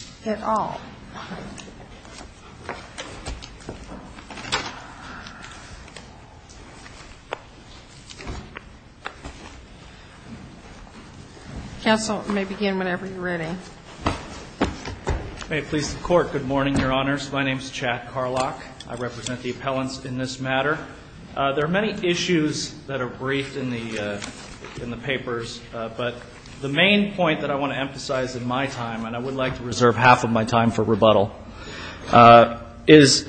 May it please the Court, good morning, Your Honors. My name is Chad Carlock. I represent the appellants in this matter. There are many issues that are briefed in the papers, but the main point that I want to emphasize in my time, and I would like to reserve half of my time for rebuttal, is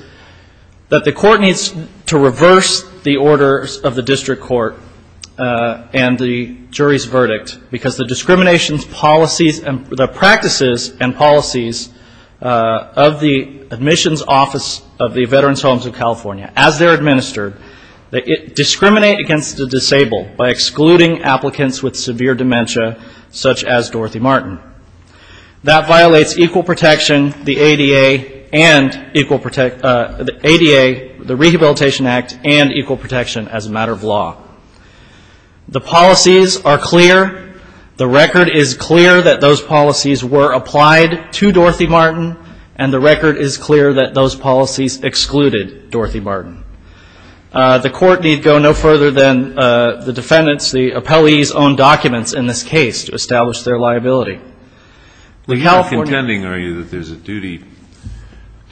that the Court needs to reverse the orders of the District Court and the jury's verdict, because the discriminations policies and the practices and policies of the Admissions Office of the Veterans Homes of California, as they're administered, they discriminate against the disabled by excluding applicants with severe dementia, such as Dorothy Martin. That violates equal protection, the ADA, the Rehabilitation Act, and equal protection as a matter of law. The policies are clear. The record is clear that those policies were applied to Dorothy Martin, and the record is clear that those policies excluded Dorothy Martin. The Court need go no further than the defendants, the appellees' own documents in this case to establish their liability. The California You're not contending, are you, that there's a duty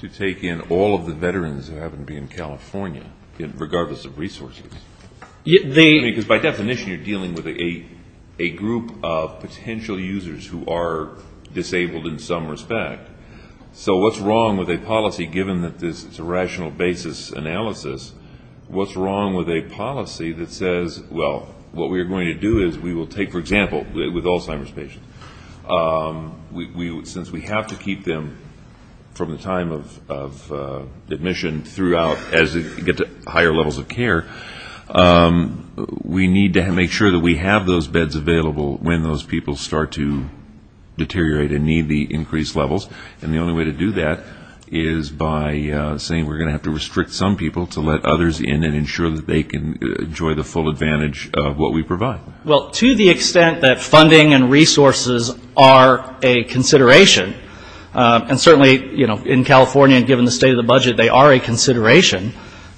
to take in all of the veterans that happen to be in California, regardless of resources? Because by definition, you're dealing with a group of potential users who are disabled in some respect. So what's wrong with a policy given that this is a rational basis analysis, what's wrong with a policy that says, well, what we're going to do is we will take, for example, with Alzheimer's patients, since we have to keep them from the time of admission throughout as they get to higher levels of care, we need to make sure that we have those beds available when those people start to we're going to have to restrict some people to let others in and ensure that they can enjoy the full advantage of what we provide. Well, to the extent that funding and resources are a consideration, and certainly, you know, in California, given the state of the budget, they are a consideration,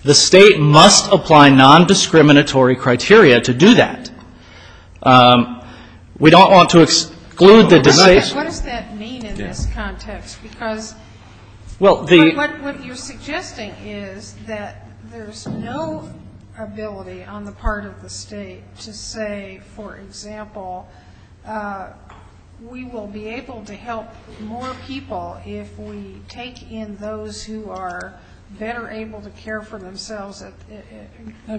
the State must apply non-discriminatory criteria to do that. We don't want to exclude the decisions that are made. What does that mean in this context? Because what you're suggesting is that there's no ability on the part of the state to say, for example, we will be able to help more people if we take in those who are better able to care for themselves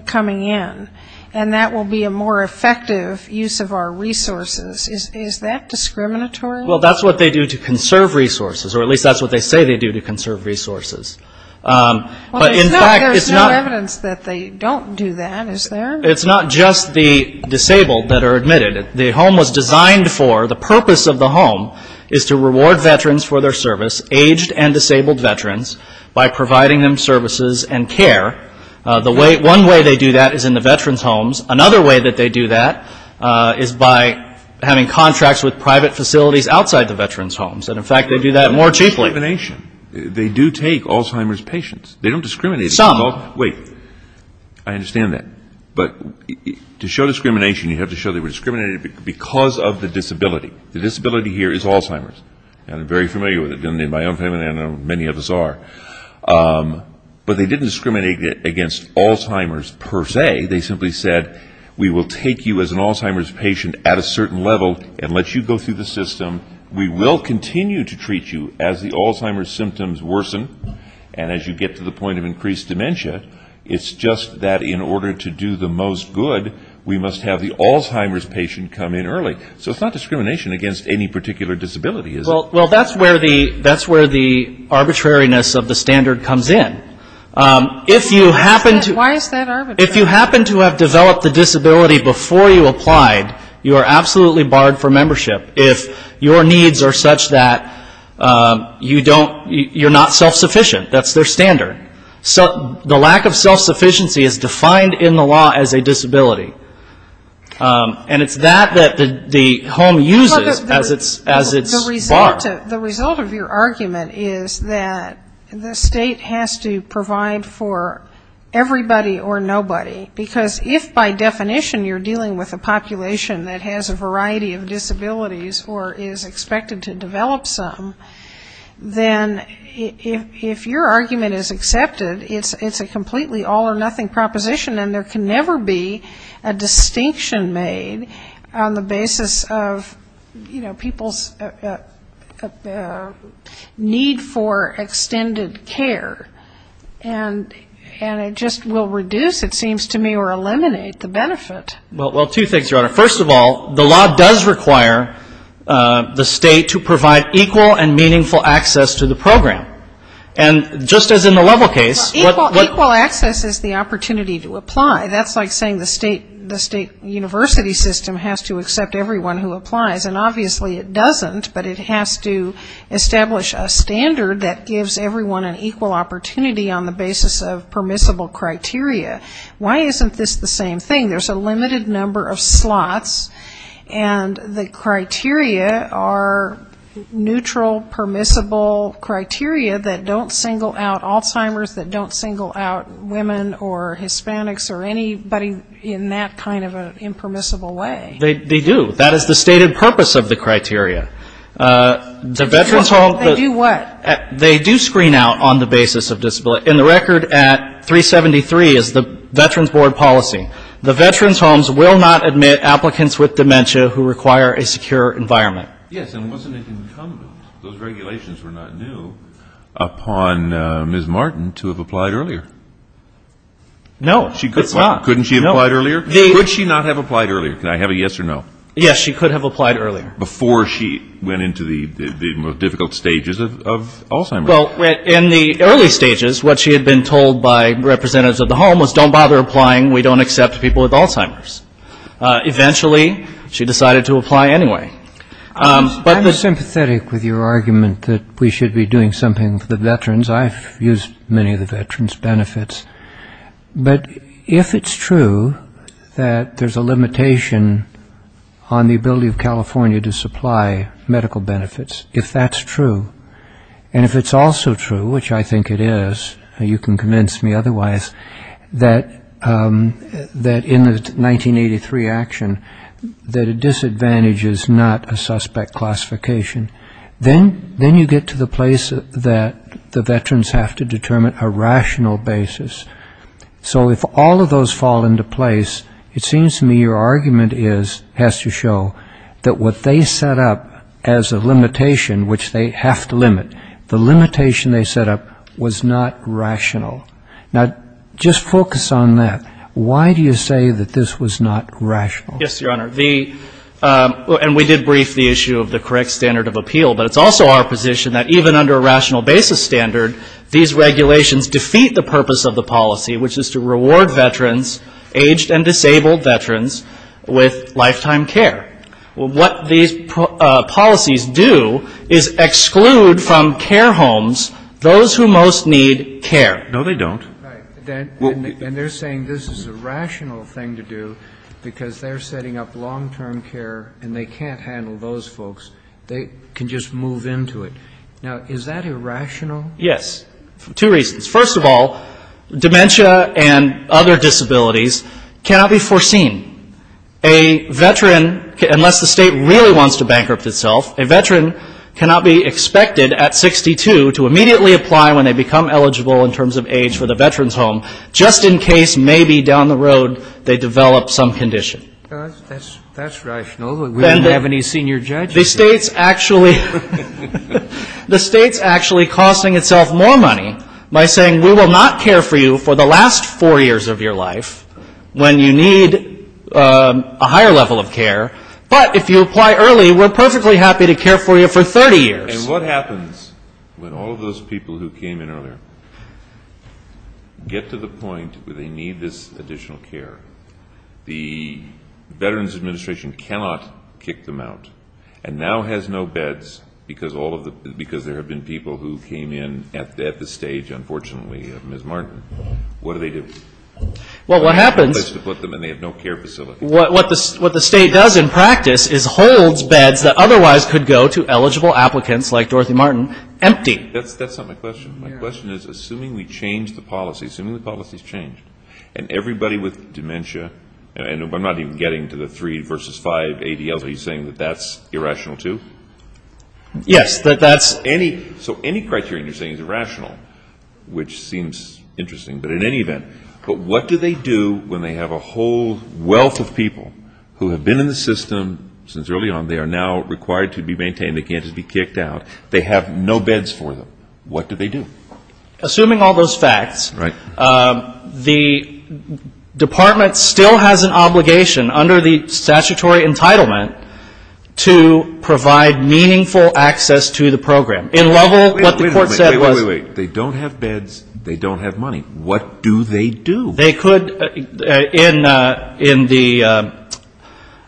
coming in, and that will be a more effective use of our resources. Is that discriminatory? Well, that's what they do to conserve resources, or at least that's what they say they do to conserve resources. Well, there's no evidence that they don't do that, is there? It's not just the disabled that are admitted. The home was designed for, the purpose of the home is to reward veterans for their service, aged and disabled veterans, by providing them services and care. One way they do that is in the veterans' homes. Another way that they do that is by having contracts with private facilities outside the veterans' homes. And in fact, they do that more cheaply. They don't have discrimination. They do take Alzheimer's patients. They don't discriminate against Alzheimer's. Some. Wait. I understand that. But to show discrimination, you have to show they were discriminated because of the disability. The disability here is Alzheimer's. And I'm very familiar with it in my own family, and I know many of us are. But they didn't discriminate against Alzheimer's per se. They simply said, we will take you as an Alzheimer's patient at a certain level and let you go through the system. We will continue to treat you as the Alzheimer's symptoms worsen and as you get to the point of increased dementia. It's just that in order to do the most good, we must have the Alzheimer's patient come in early. So it's not discrimination against any particular disability, is it? Well, that's where the arbitrariness of the standard comes in. If you happen to Why is that arbitrary? If you happen to have developed a disability before you applied, you are absolutely barred for membership if your needs are such that you don't, you're not self-sufficient. That's their standard. The lack of self-sufficiency is defined in the law as a disability. And it's that that the home uses as its bar. The result of your argument is that the state has to provide for everybody or nobody. Because if by definition you're dealing with a population that has a variety of disabilities or is expected to develop some, then if your argument is accepted, it's a completely all or nothing proposition and there can never be a distinction made on the basis of, you know, people's need for extended care. And it just will reduce, it seems to me, or eliminate the benefit. Well, two things, Your Honor. First of all, the law does require the state to provide equal and meaningful access to the program. And just as in the level case, what Equal access is the opportunity to apply. That's like saying the state university system has to accept everyone who applies. And obviously it doesn't, but it has to establish a standard that gives everyone an equal opportunity on the basis of permissible criteria. Why isn't this the same thing? There's a limited number of slots and the criteria are neutral, permissible criteria that don't single out Alzheimer's, that don't single out women or Hispanics or anybody in that kind of an impermissible way. They do. That is the stated purpose of the criteria. They do what? They do screen out on the basis of disability. And the record at 373 is the Veterans Board policy. The Veterans Homes will not admit applicants with dementia who require a secure environment. Yes, and wasn't it incumbent, those regulations were not new, upon Ms. Martin to have applied earlier? No, it's not. Couldn't she have applied earlier? Could she not have applied earlier? Can I have a yes or no? Yes, she could have applied earlier. Before she went into the most difficult stages of Alzheimer's. Well, in the early stages, what she had been told by representatives of the home was don't apply anyway. I'm sympathetic with your argument that we should be doing something for the veterans. I've used many of the veterans' benefits. But if it's true that there's a limitation on the ability of California to supply medical benefits, if that's true, and if it's also true, which I think it is, you can convince me otherwise, that in the 1983 action, that disadvantage is not a suspect classification. Then you get to the place that the veterans have to determine a rational basis. So if all of those fall into place, it seems to me your argument is, has to show, that what they set up as a limitation, which they have to limit, the limitation they set up was not rational. Now, just focus on that. Why do you say that this was not rational? Yes, Your Honor. The — and we did brief the issue of the correct standard of appeal. But it's also our position that even under a rational basis standard, these regulations defeat the purpose of the policy, which is to reward veterans, aged and disabled veterans, with lifetime care. What these policies do is exclude from care homes those who most need care. No, they don't. Right. And they're saying this is a rational thing to do because they're saying if they're setting up long-term care and they can't handle those folks, they can just move into it. Now, is that irrational? Yes, for two reasons. First of all, dementia and other disabilities cannot be foreseen. A veteran, unless the state really wants to bankrupt itself, a veteran cannot be expected at 62 to immediately apply when they become eligible in terms of age for the veteran's home, just in case maybe down the road they develop some condition. That's rational. Then they have any senior judges. The State's actually — the State's actually costing itself more money by saying we will not care for you for the last four years of your life when you need a higher level of care, but if you apply early, we're perfectly happy to care for you for 30 years. And what happens when all of those people who came in earlier get to the point where they need this additional care? The Veterans Administration cannot kick them out and now has no beds because all of the — because there have been people who came in at this stage, unfortunately, of Ms. Martin. What do they do? Well, what happens — They have no place to put them and they have no care facility. What the State does in practice is holds beds that otherwise could go to eligible applicants like Dorothy Martin empty. That's not my question. My question is, assuming we change the policy, assuming the And everybody with dementia — and I'm not even getting to the three versus five ADLs. Are you saying that that's irrational, too? Yes, that that's — Any — so any criteria you're saying is irrational, which seems interesting, but in any event, but what do they do when they have a whole wealth of people who have been in the system since early on, they are now required to be maintained. They can't just be kicked out. They have no beds for them. What do they do? Assuming all those facts — Right. — the Department still has an obligation under the statutory entitlement to provide meaningful access to the program. In level — Wait a minute. Wait, wait, wait. They don't have beds. They don't have money. What do they do? They could — in the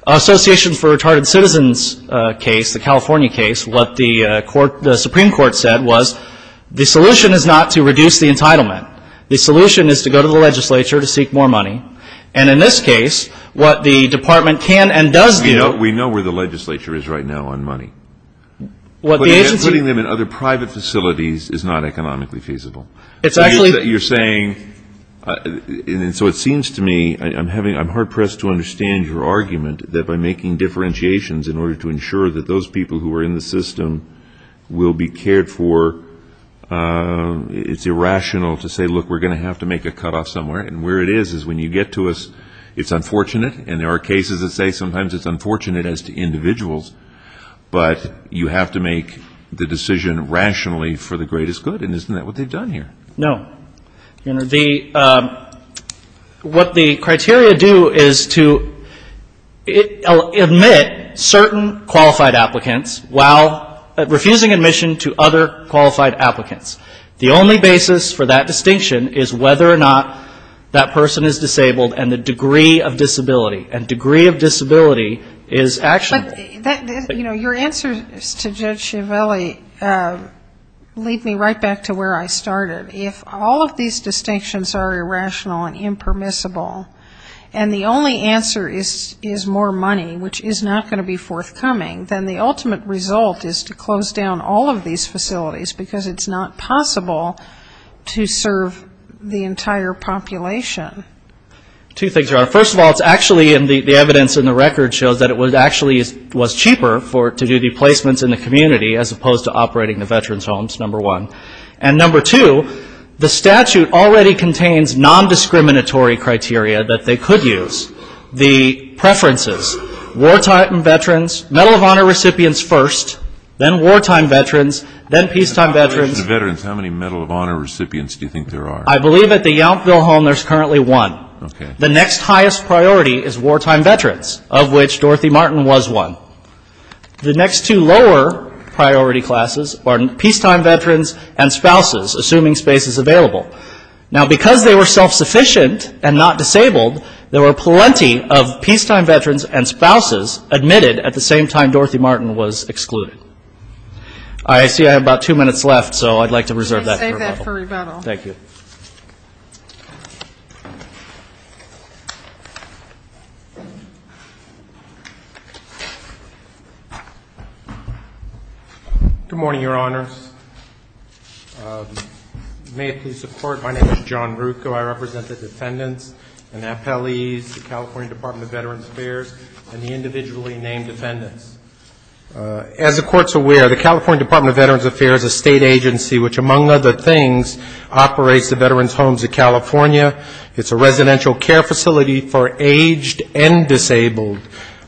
Association for Retarded Citizens case, the California case, what the Supreme Court said was the solution is not to reduce the entitlement. The solution is to go to the legislature to seek more money. And in this case, what the Department can and does do — We know where the legislature is right now on money. What the agency — Putting them in other private facilities is not economically feasible. It's actually — You're saying — and so it seems to me I'm having — I'm hard-pressed to understand your argument that by making differentiations in order to ensure that those people who are in the system will be cared for, it's irrational to say, look, we're going to have to make a cutoff somewhere. And where it is, is when you get to us, it's unfortunate. And there are cases that say sometimes it's unfortunate as to individuals. But you have to make the decision rationally for the greatest good. And isn't that what they've done here? No. You know, the — what the criteria do is to admit certain qualified applicants while refusing admission to other qualified applicants. The only basis for that distinction is whether or not that person is disabled and the degree of disability. And degree of disability is actionable. But, you know, your answers to Judge Chiavelli lead me right back to where I started. If all of these distinctions are irrational and impermissible and the only answer is more money, which is not going to be forthcoming, then the ultimate result is to close down all of these facilities because it's not possible to serve the entire population. Two things, Your Honor. First of all, it's actually — and the evidence in the record shows that it actually was cheaper to do the placements in the community as opposed to operating the veterans' homes, number one. And, number two, the statute already contains non-discriminatory criteria that they could use. The preferences, wartime veterans, Medal of Honor recipients first, then wartime veterans, then peacetime veterans. In the veterans, how many Medal of Honor recipients do you think there are? I believe at the Yountville home there's currently one. Okay. The next highest priority is wartime veterans, of which Dorothy Martin was one. The next two lower priority classes are peacetime veterans and spouses, assuming space is available. Now, because they were self-sufficient and not disabled, there were plenty of peacetime veterans and spouses admitted at the same time Dorothy Martin was excluded. I see I have about two minutes left, so I'd like to reserve that for rebuttal. Thank you. Good morning, Your Honors. May it please the Court, my name is John Rucco. I represent the defendants, the appellees, the California Department of Veterans Affairs, and the individually named defendants. As the Court's aware, the California Department of Veterans Affairs is a state agency which, among other things, operates the Veterans Homes of California. It's a residential care facility for aged and disabled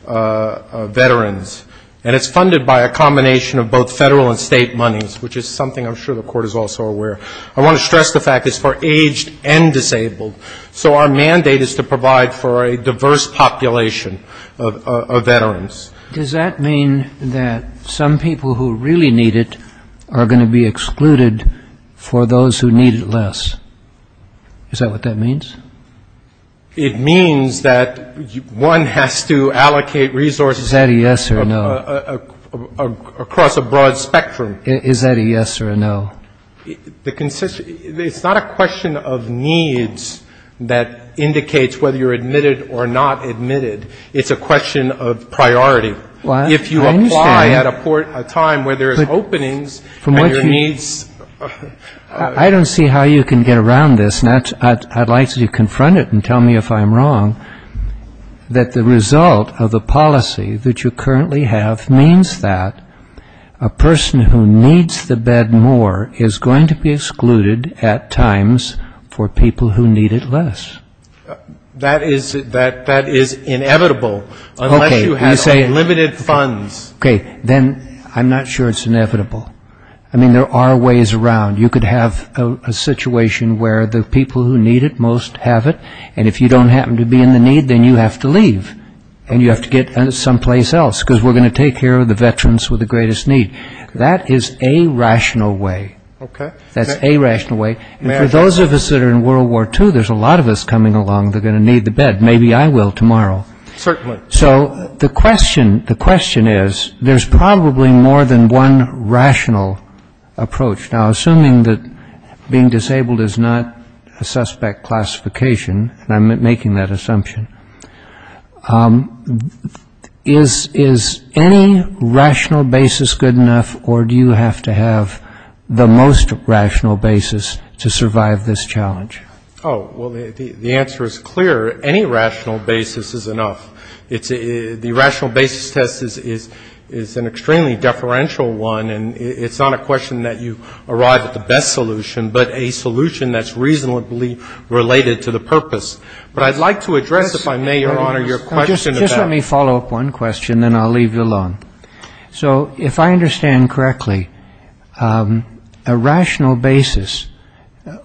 veterans. And it's funded by a combination of both federal and state monies, which is something I'm sure the Court is also aware. I want to stress the fact it's for aged and disabled. So our mandate is to provide for a diverse population of veterans. Does that mean that some people who really need it are going to be excluded for those who need it less? Is that what that means? It means that one has to allocate resources across a broad spectrum. Is that a yes or a no? It's not a question of needs that indicates whether you're admitted or not admitted. It's a question of priority. I understand. If you apply at a time where there's openings and your needs... I don't see how you can get around this, and I'd like you to confront it and tell me if I'm wrong, that the result of the policy that you currently have means that a person who needs the bed more is going to be excluded at times for people who need it less. That is inevitable unless you have limited funds. Okay. Then I'm not sure it's inevitable. I mean, there are ways around. You could have a situation where the people who need it most have it, and if you don't happen to be in the need, then you have to leave, and you have to get someplace else because we're going to take care of the veterans with the greatest need. That is a rational way. Okay. That's a rational way. For those of us that are in World War II, there's a lot of us coming along that are going to need the bed. Maybe I will tomorrow. Certainly. So the question is, there's probably more than one rational approach. Now, assuming that being disabled is not a suspect classification, and I'm making that assumption, is any rational basis good enough, or do you have to have the most rational basis to survive this challenge? Oh, well, the answer is clear. Any rational basis is enough. It's the rational basis test is an extremely deferential one, and it's not a question that you arrive at the best solution, but a solution that's reasonably related to the purpose. But I'd like to address, if I may, Your Honor, your question. Just let me follow up one question, then I'll leave you alone. So if I understand correctly, a rational basis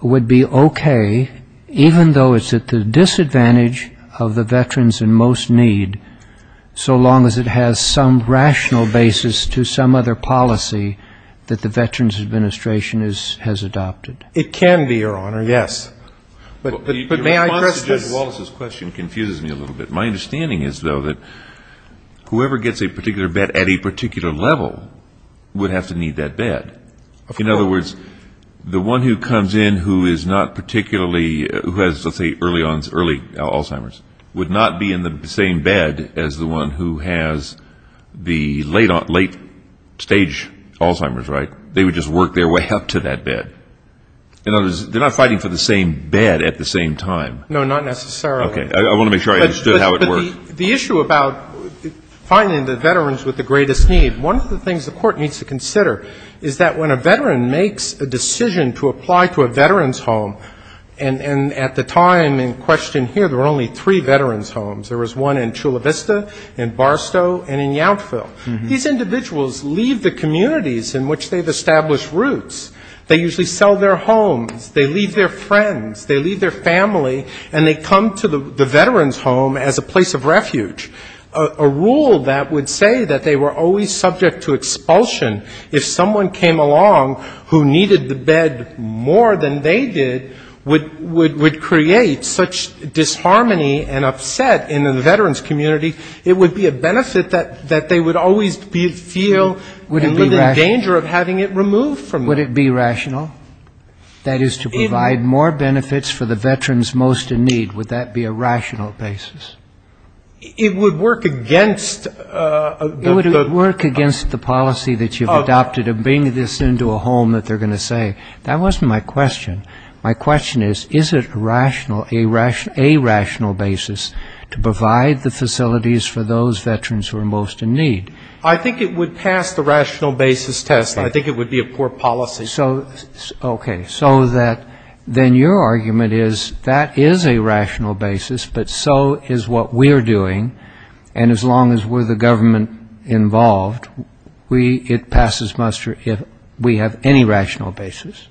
would be okay, even though it's at the disadvantage of the veterans in most need, so long as it has some rational basis to some other policy that the Veterans Administration has adopted. It can be, Your Honor, yes. But may I address this? Your response to Judge Wallace's question confuses me a little bit. My understanding is, though, that whoever gets a particular bed at a particular level would have to need that bed. In other words, the one who comes in who has, let's say, early Alzheimer's would not be in the same bed as the one who has the late-stage Alzheimer's, right? They would just work their way up to that bed. In other words, they're not fighting for the same bed at the same time. No, not necessarily. Okay. I want to make sure I understood how it worked. The issue about finding the veterans with the greatest need, one of the things the Court needs to consider is that when a veteran makes a decision to apply to a veterans home, and at the time in question here, there were only three veterans homes. There was one in Chula Vista, in Barstow, and in Yountville. These individuals leave the communities in which they've established roots. They usually sell their homes. They leave their friends. They leave their family. And they come to the veterans home as a place of refuge, a rule that would say that they were always subject to expulsion if someone came along who needed the bed more than they did would create such disharmony and upset in the veterans community. It would be a benefit that they would always feel a little danger of having it removed from them. Would it be rational? That is, to provide more benefits for the veterans most in need, would that be a rational basis? It would work against the policy that you've adopted of bringing this into a home that they're going to save. That wasn't my question. My question is, is it a rational basis to provide the facilities for those veterans who are most in need? I think it would pass the rational basis test. I think it would be a poor policy. OK. So then your argument is, that is a rational basis. But so is what we're doing. And as long as we're the government involved, it passes muster if we have any rational basis.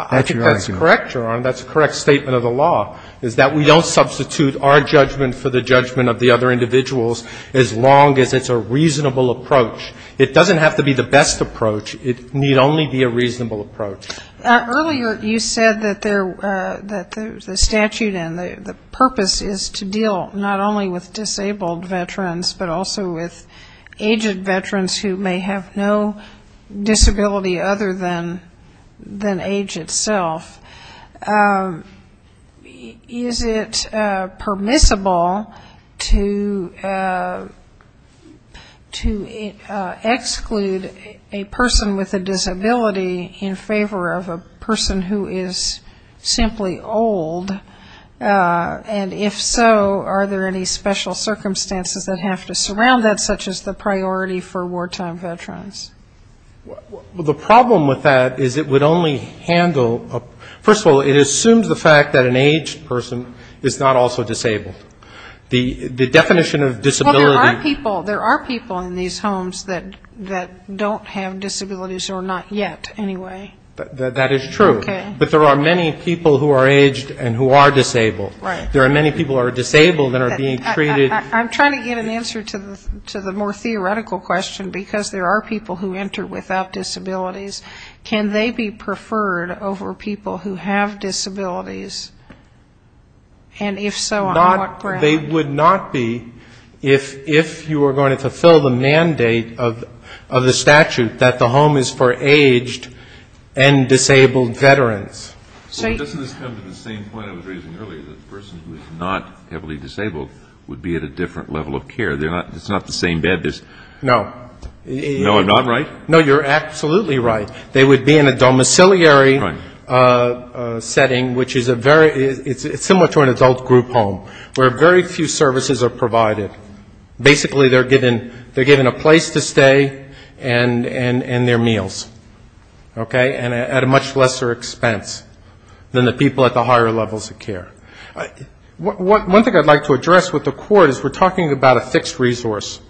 I think that's correct, Your Honor. That's a correct statement of the law, is that we don't substitute our judgment for the judgment of the other individuals as long as it's a reasonable approach. It doesn't have to be the best approach. It need only be a reasonable approach. Earlier, you said that the statute and the purpose is to deal not only with disabled veterans, but also with aged veterans who may have no disability other than age itself. Is it permissible to exclude a person with a disability in favor of a person who is simply old? And if so, are there any special circumstances that have to surround that, such as the priority for wartime veterans? Well, the problem with that is, it would only handle a person with a disability who is First of all, it assumes the fact that an aged person is not also disabled. The definition of disability Well, there are people in these homes that don't have disabilities or not yet, anyway. That is true. But there are many people who are aged and who are disabled. There are many people who are disabled that are being treated I'm trying to get an answer to the more theoretical question, because there are people who enter without disabilities. Can they be preferred over people who have disabilities? And if so, on what ground? They would not be if you were going to fulfill the mandate of the statute that the home is for aged and disabled veterans. Doesn't this come to the same point I was raising earlier, that a person who is not heavily disabled would be at a different level of care? It's not the same bed. No. No, I'm not right? No, you're absolutely right. They would be in a domiciliary setting, which is a very, it's similar to an adult group home, where very few services are provided. Basically, they're given a place to stay and their meals. Okay? And at a much lesser expense than the people at the higher levels of care. One thing I'd like to address with the court is we're talking about a fixed resource,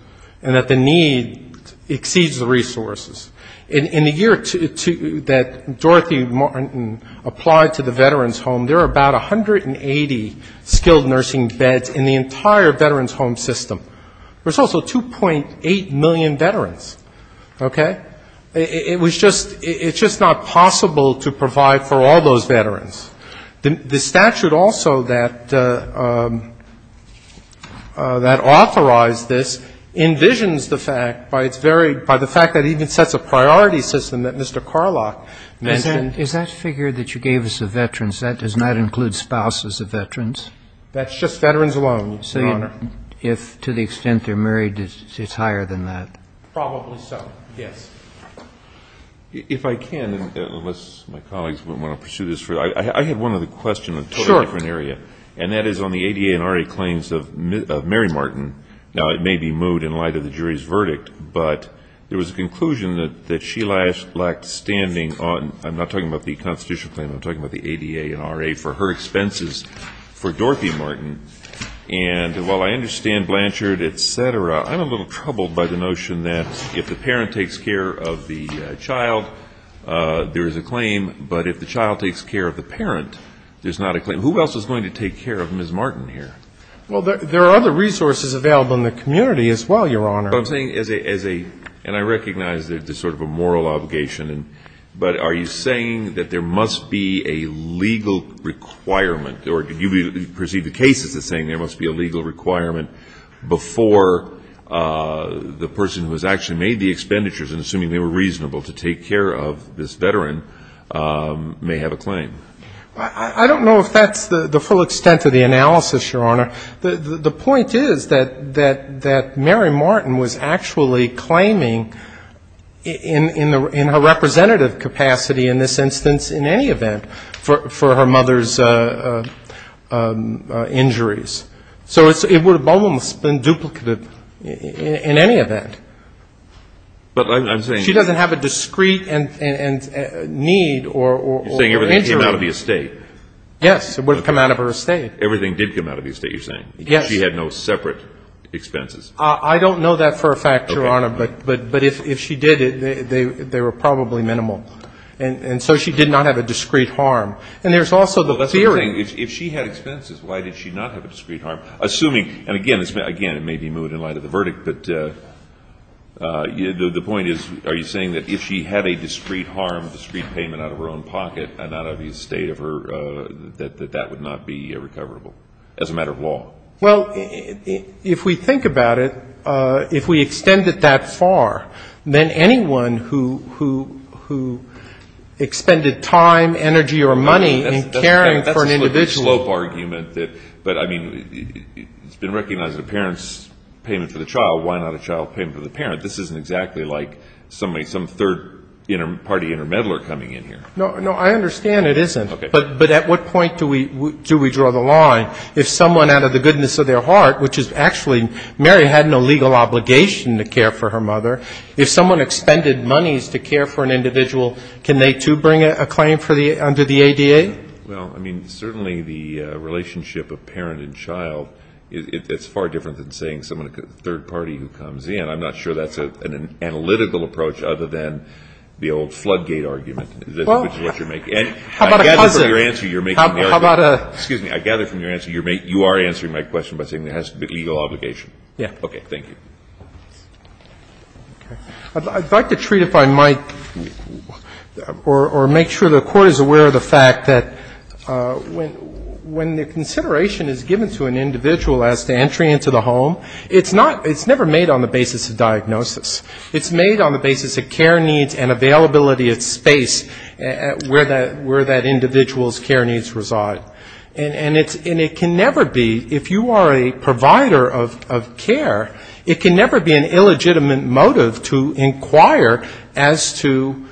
and that the need exceeds the resources. In the year that Dorothy Martin applied to the veterans' home, there are about 180 skilled nursing beds in the entire veterans' home system. There's also 2.8 million veterans. Okay? It was just, it's just not possible to provide for all those veterans. The statute also that authorized this envisions the fact by its very, by the fact that it sets a priority system that Mr. Carlock mentioned. Is that figure that you gave us of veterans, that does not include spouses of veterans? That's just veterans alone, Your Honor. If, to the extent they're married, it's higher than that? Probably so, yes. If I can, unless my colleagues want to pursue this further, I had one other question on a totally different area. And that is on the ADA and RA claims of Mary Martin. Now, it may be moot in light of the jury's verdict, but there was a conclusion that Sheila lacked standing on, I'm not talking about the constitutional claim, I'm talking about the ADA and RA, for her expenses for Dorothy Martin. And while I understand Blanchard, et cetera, I'm a little troubled by the notion that if the parent takes care of the child, there is a claim. But if the child takes care of the parent, there's not a claim. Who else is going to take care of Ms. Martin here? Well, there are other resources available in the community as well, Your Honor. I'm saying as a, and I recognize there's sort of a moral obligation, but are you saying that there must be a legal requirement, or do you perceive the case as saying there must be a legal requirement before the person who has actually made the expenditures, and assuming they were reasonable to take care of this veteran, may have a claim? I don't know if that's the full extent of the analysis, Your Honor. The point is that Mary Martin was actually claiming in her representative capacity in this instance, in any event, for her mother's injuries. So it would have almost been duplicated in any event. But I'm saying... She doesn't have a discrete need or... You're saying everything came out of the estate. Yes, it would have come out of her estate. Everything did come out of the estate, you're saying? Yes. She had no separate expenses? I don't know that for a fact, Your Honor, but if she did, they were probably minimal. And so she did not have a discrete harm. And there's also the theory... If she had expenses, why did she not have a discrete harm? Assuming, and again, it may be moved in light of the verdict, but the point is, are you saying that if she had a discrete harm, discrete payment out of her own pocket and out of the estate of her, that that would not be recoverable as a matter of law? Well, if we think about it, if we extend it that far, then anyone who expended time, energy, or money in caring for an individual... That's a slope argument. But, I mean, it's been recognized that a parent's payment for the child, why not a child payment for the parent? This isn't exactly like some third-party intermeddler coming in here. No. No. I understand it isn't. But at what point do we draw the line? If someone, out of the goodness of their heart, which is actually... Mary had no legal obligation to care for her mother. If someone expended monies to care for an individual, can they, too, bring a claim under the ADA? Well, I mean, certainly the relationship of parent and child, it's far different than saying someone, a third party who comes in. I'm not sure that's an analytical approach other than the old floodgate argument. It's what you're making. And I gather from your answer, you're making the argument... How about a... Excuse me. I gather from your answer, you are answering my question by saying there has to be a legal obligation. Yes. Okay. Thank you. I'd like to treat, if I might, or make sure the Court is aware of the fact that when the consideration is given to an individual as to entry into the home, it's never made on the basis of diagnosis. It's made on the basis of care needs and availability of space where that individual's care needs reside. And it can never be, if you are a provider of care, it can never be an illegitimate motive to inquire as to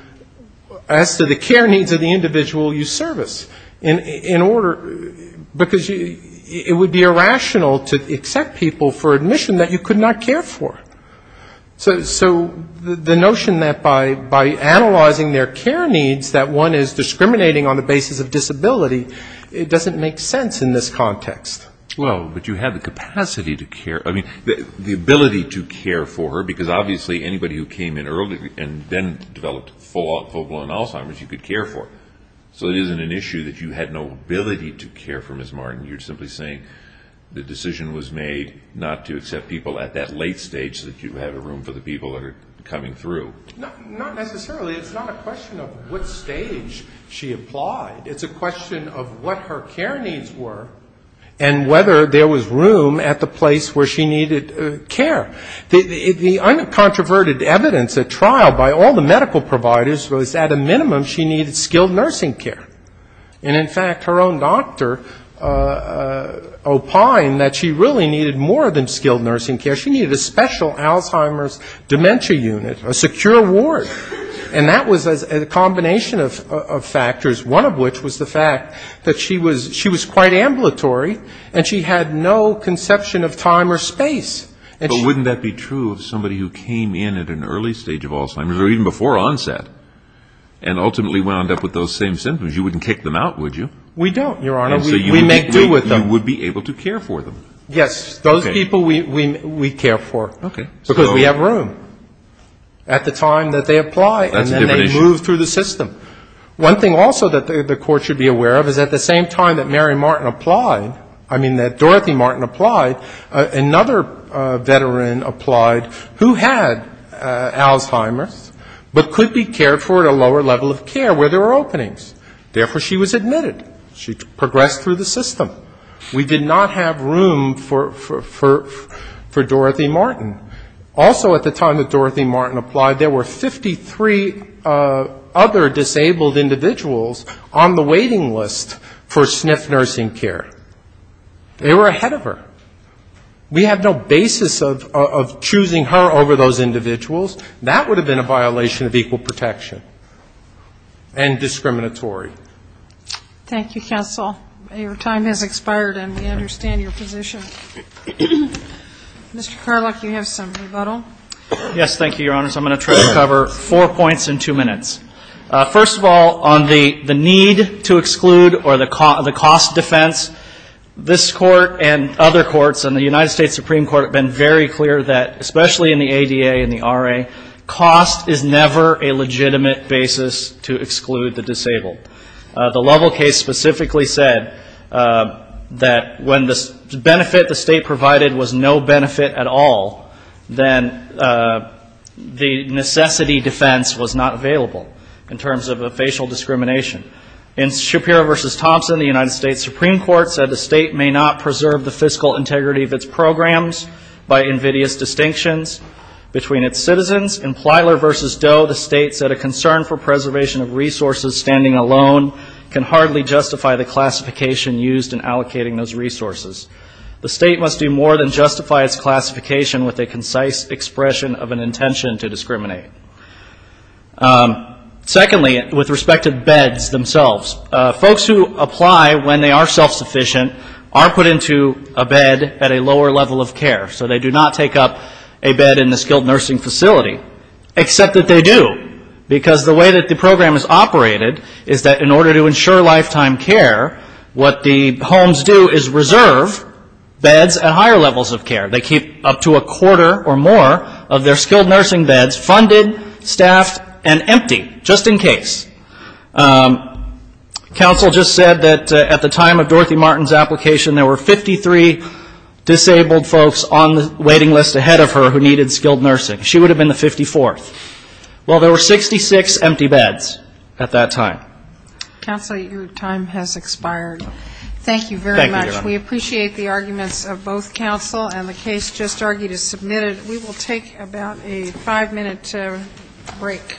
the care needs of the individual you service. In order... Because it would be irrational to accept people for admission that you could not care for. So the notion that by analyzing their care needs that one is discriminating on the basis of disability, it doesn't make sense in this context. Well, but you have the capacity to care. I mean, the ability to care for her, because obviously anybody who came in early and then developed full-blown Alzheimer's, you could care for. So it isn't an issue that you had no ability to care for Ms. Martin. You're simply saying the decision was made not to accept people at that late stage that you have room for the people that are coming through. Not necessarily. It's not a question of what stage she applied. It's a question of what her care needs were and whether there was room at the place where she needed care. The uncontroverted evidence at trial by all the medical providers was at a minimum she needed skilled nursing care. And in fact, her own doctor opined that she really needed more than skilled nursing care. She needed a special Alzheimer's dementia unit, a secure ward. And that was a combination of factors, one of which was the fact that she was quite ambulatory and she had no conception of time or space. But wouldn't that be true of somebody who came in at an early stage of Alzheimer's or even before onset? And ultimately wound up with those same symptoms. You wouldn't kick them out, would you? We don't, Your Honor. We make do with them. You would be able to care for them. Yes. Those people we care for. Okay. Because we have room at the time that they apply and then they move through the system. One thing also that the Court should be aware of is at the same time that Mary Martin applied, I mean that Dorothy Martin applied, another veteran applied who had Alzheimer's but could be cared for at a lower level of care where there were openings. Therefore, she was admitted. She progressed through the system. We did not have room for Dorothy Martin. Also at the time that Dorothy Martin applied, there were 53 other disabled individuals on the waiting list for SNF nursing care. They were ahead of her. We have no basis of choosing her over those individuals. That would have been a violation of equal protection and discriminatory. Thank you, counsel. Your time has expired and we understand your position. Mr. Karluk, you have some rebuttal. Yes. Thank you, Your Honors. I'm going to try to cover four points in two minutes. First of all, on the need to exclude or the cost defense, this Court and other courts in the United States Supreme Court have been very clear that, especially in the ADA and the RA, cost is never a legitimate basis to exclude the disabled. The Lovell case specifically said that when the benefit the state provided was no benefit at all, then the necessity defense was not available in terms of a facial discrimination. In Shapiro v. Thompson, the United States Supreme Court said the state may not preserve the fiscal integrity of its programs by invidious distinctions between its citizens. In Plyler v. Doe, the state said a concern for preservation of resources standing alone can hardly justify the classification used in allocating those resources. The state must do more than justify its classification with a concise expression of an intention to discriminate. Secondly, with respect to beds themselves, folks who apply when they are self-sufficient are put into a bed at a lower level of care. So they do not take up a bed in the skilled nursing facility, except that they do, because the way that the program is operated is that in order to ensure lifetime care, what the homes do is reserve beds at higher levels of care. They keep up to a quarter or more of their skilled nursing beds funded, staffed, and empty, just in case. Counsel just said that at the time of Dorothy Martin's application, there were 53 disabled folks on the waiting list ahead of her who needed skilled nursing. She would have been the 54th. Well, there were 66 empty beds at that time. Counsel, your time has expired. Thank you very much. We appreciate the arguments of both counsel, and the case just argued is submitted. We will take about a five-minute break. All right.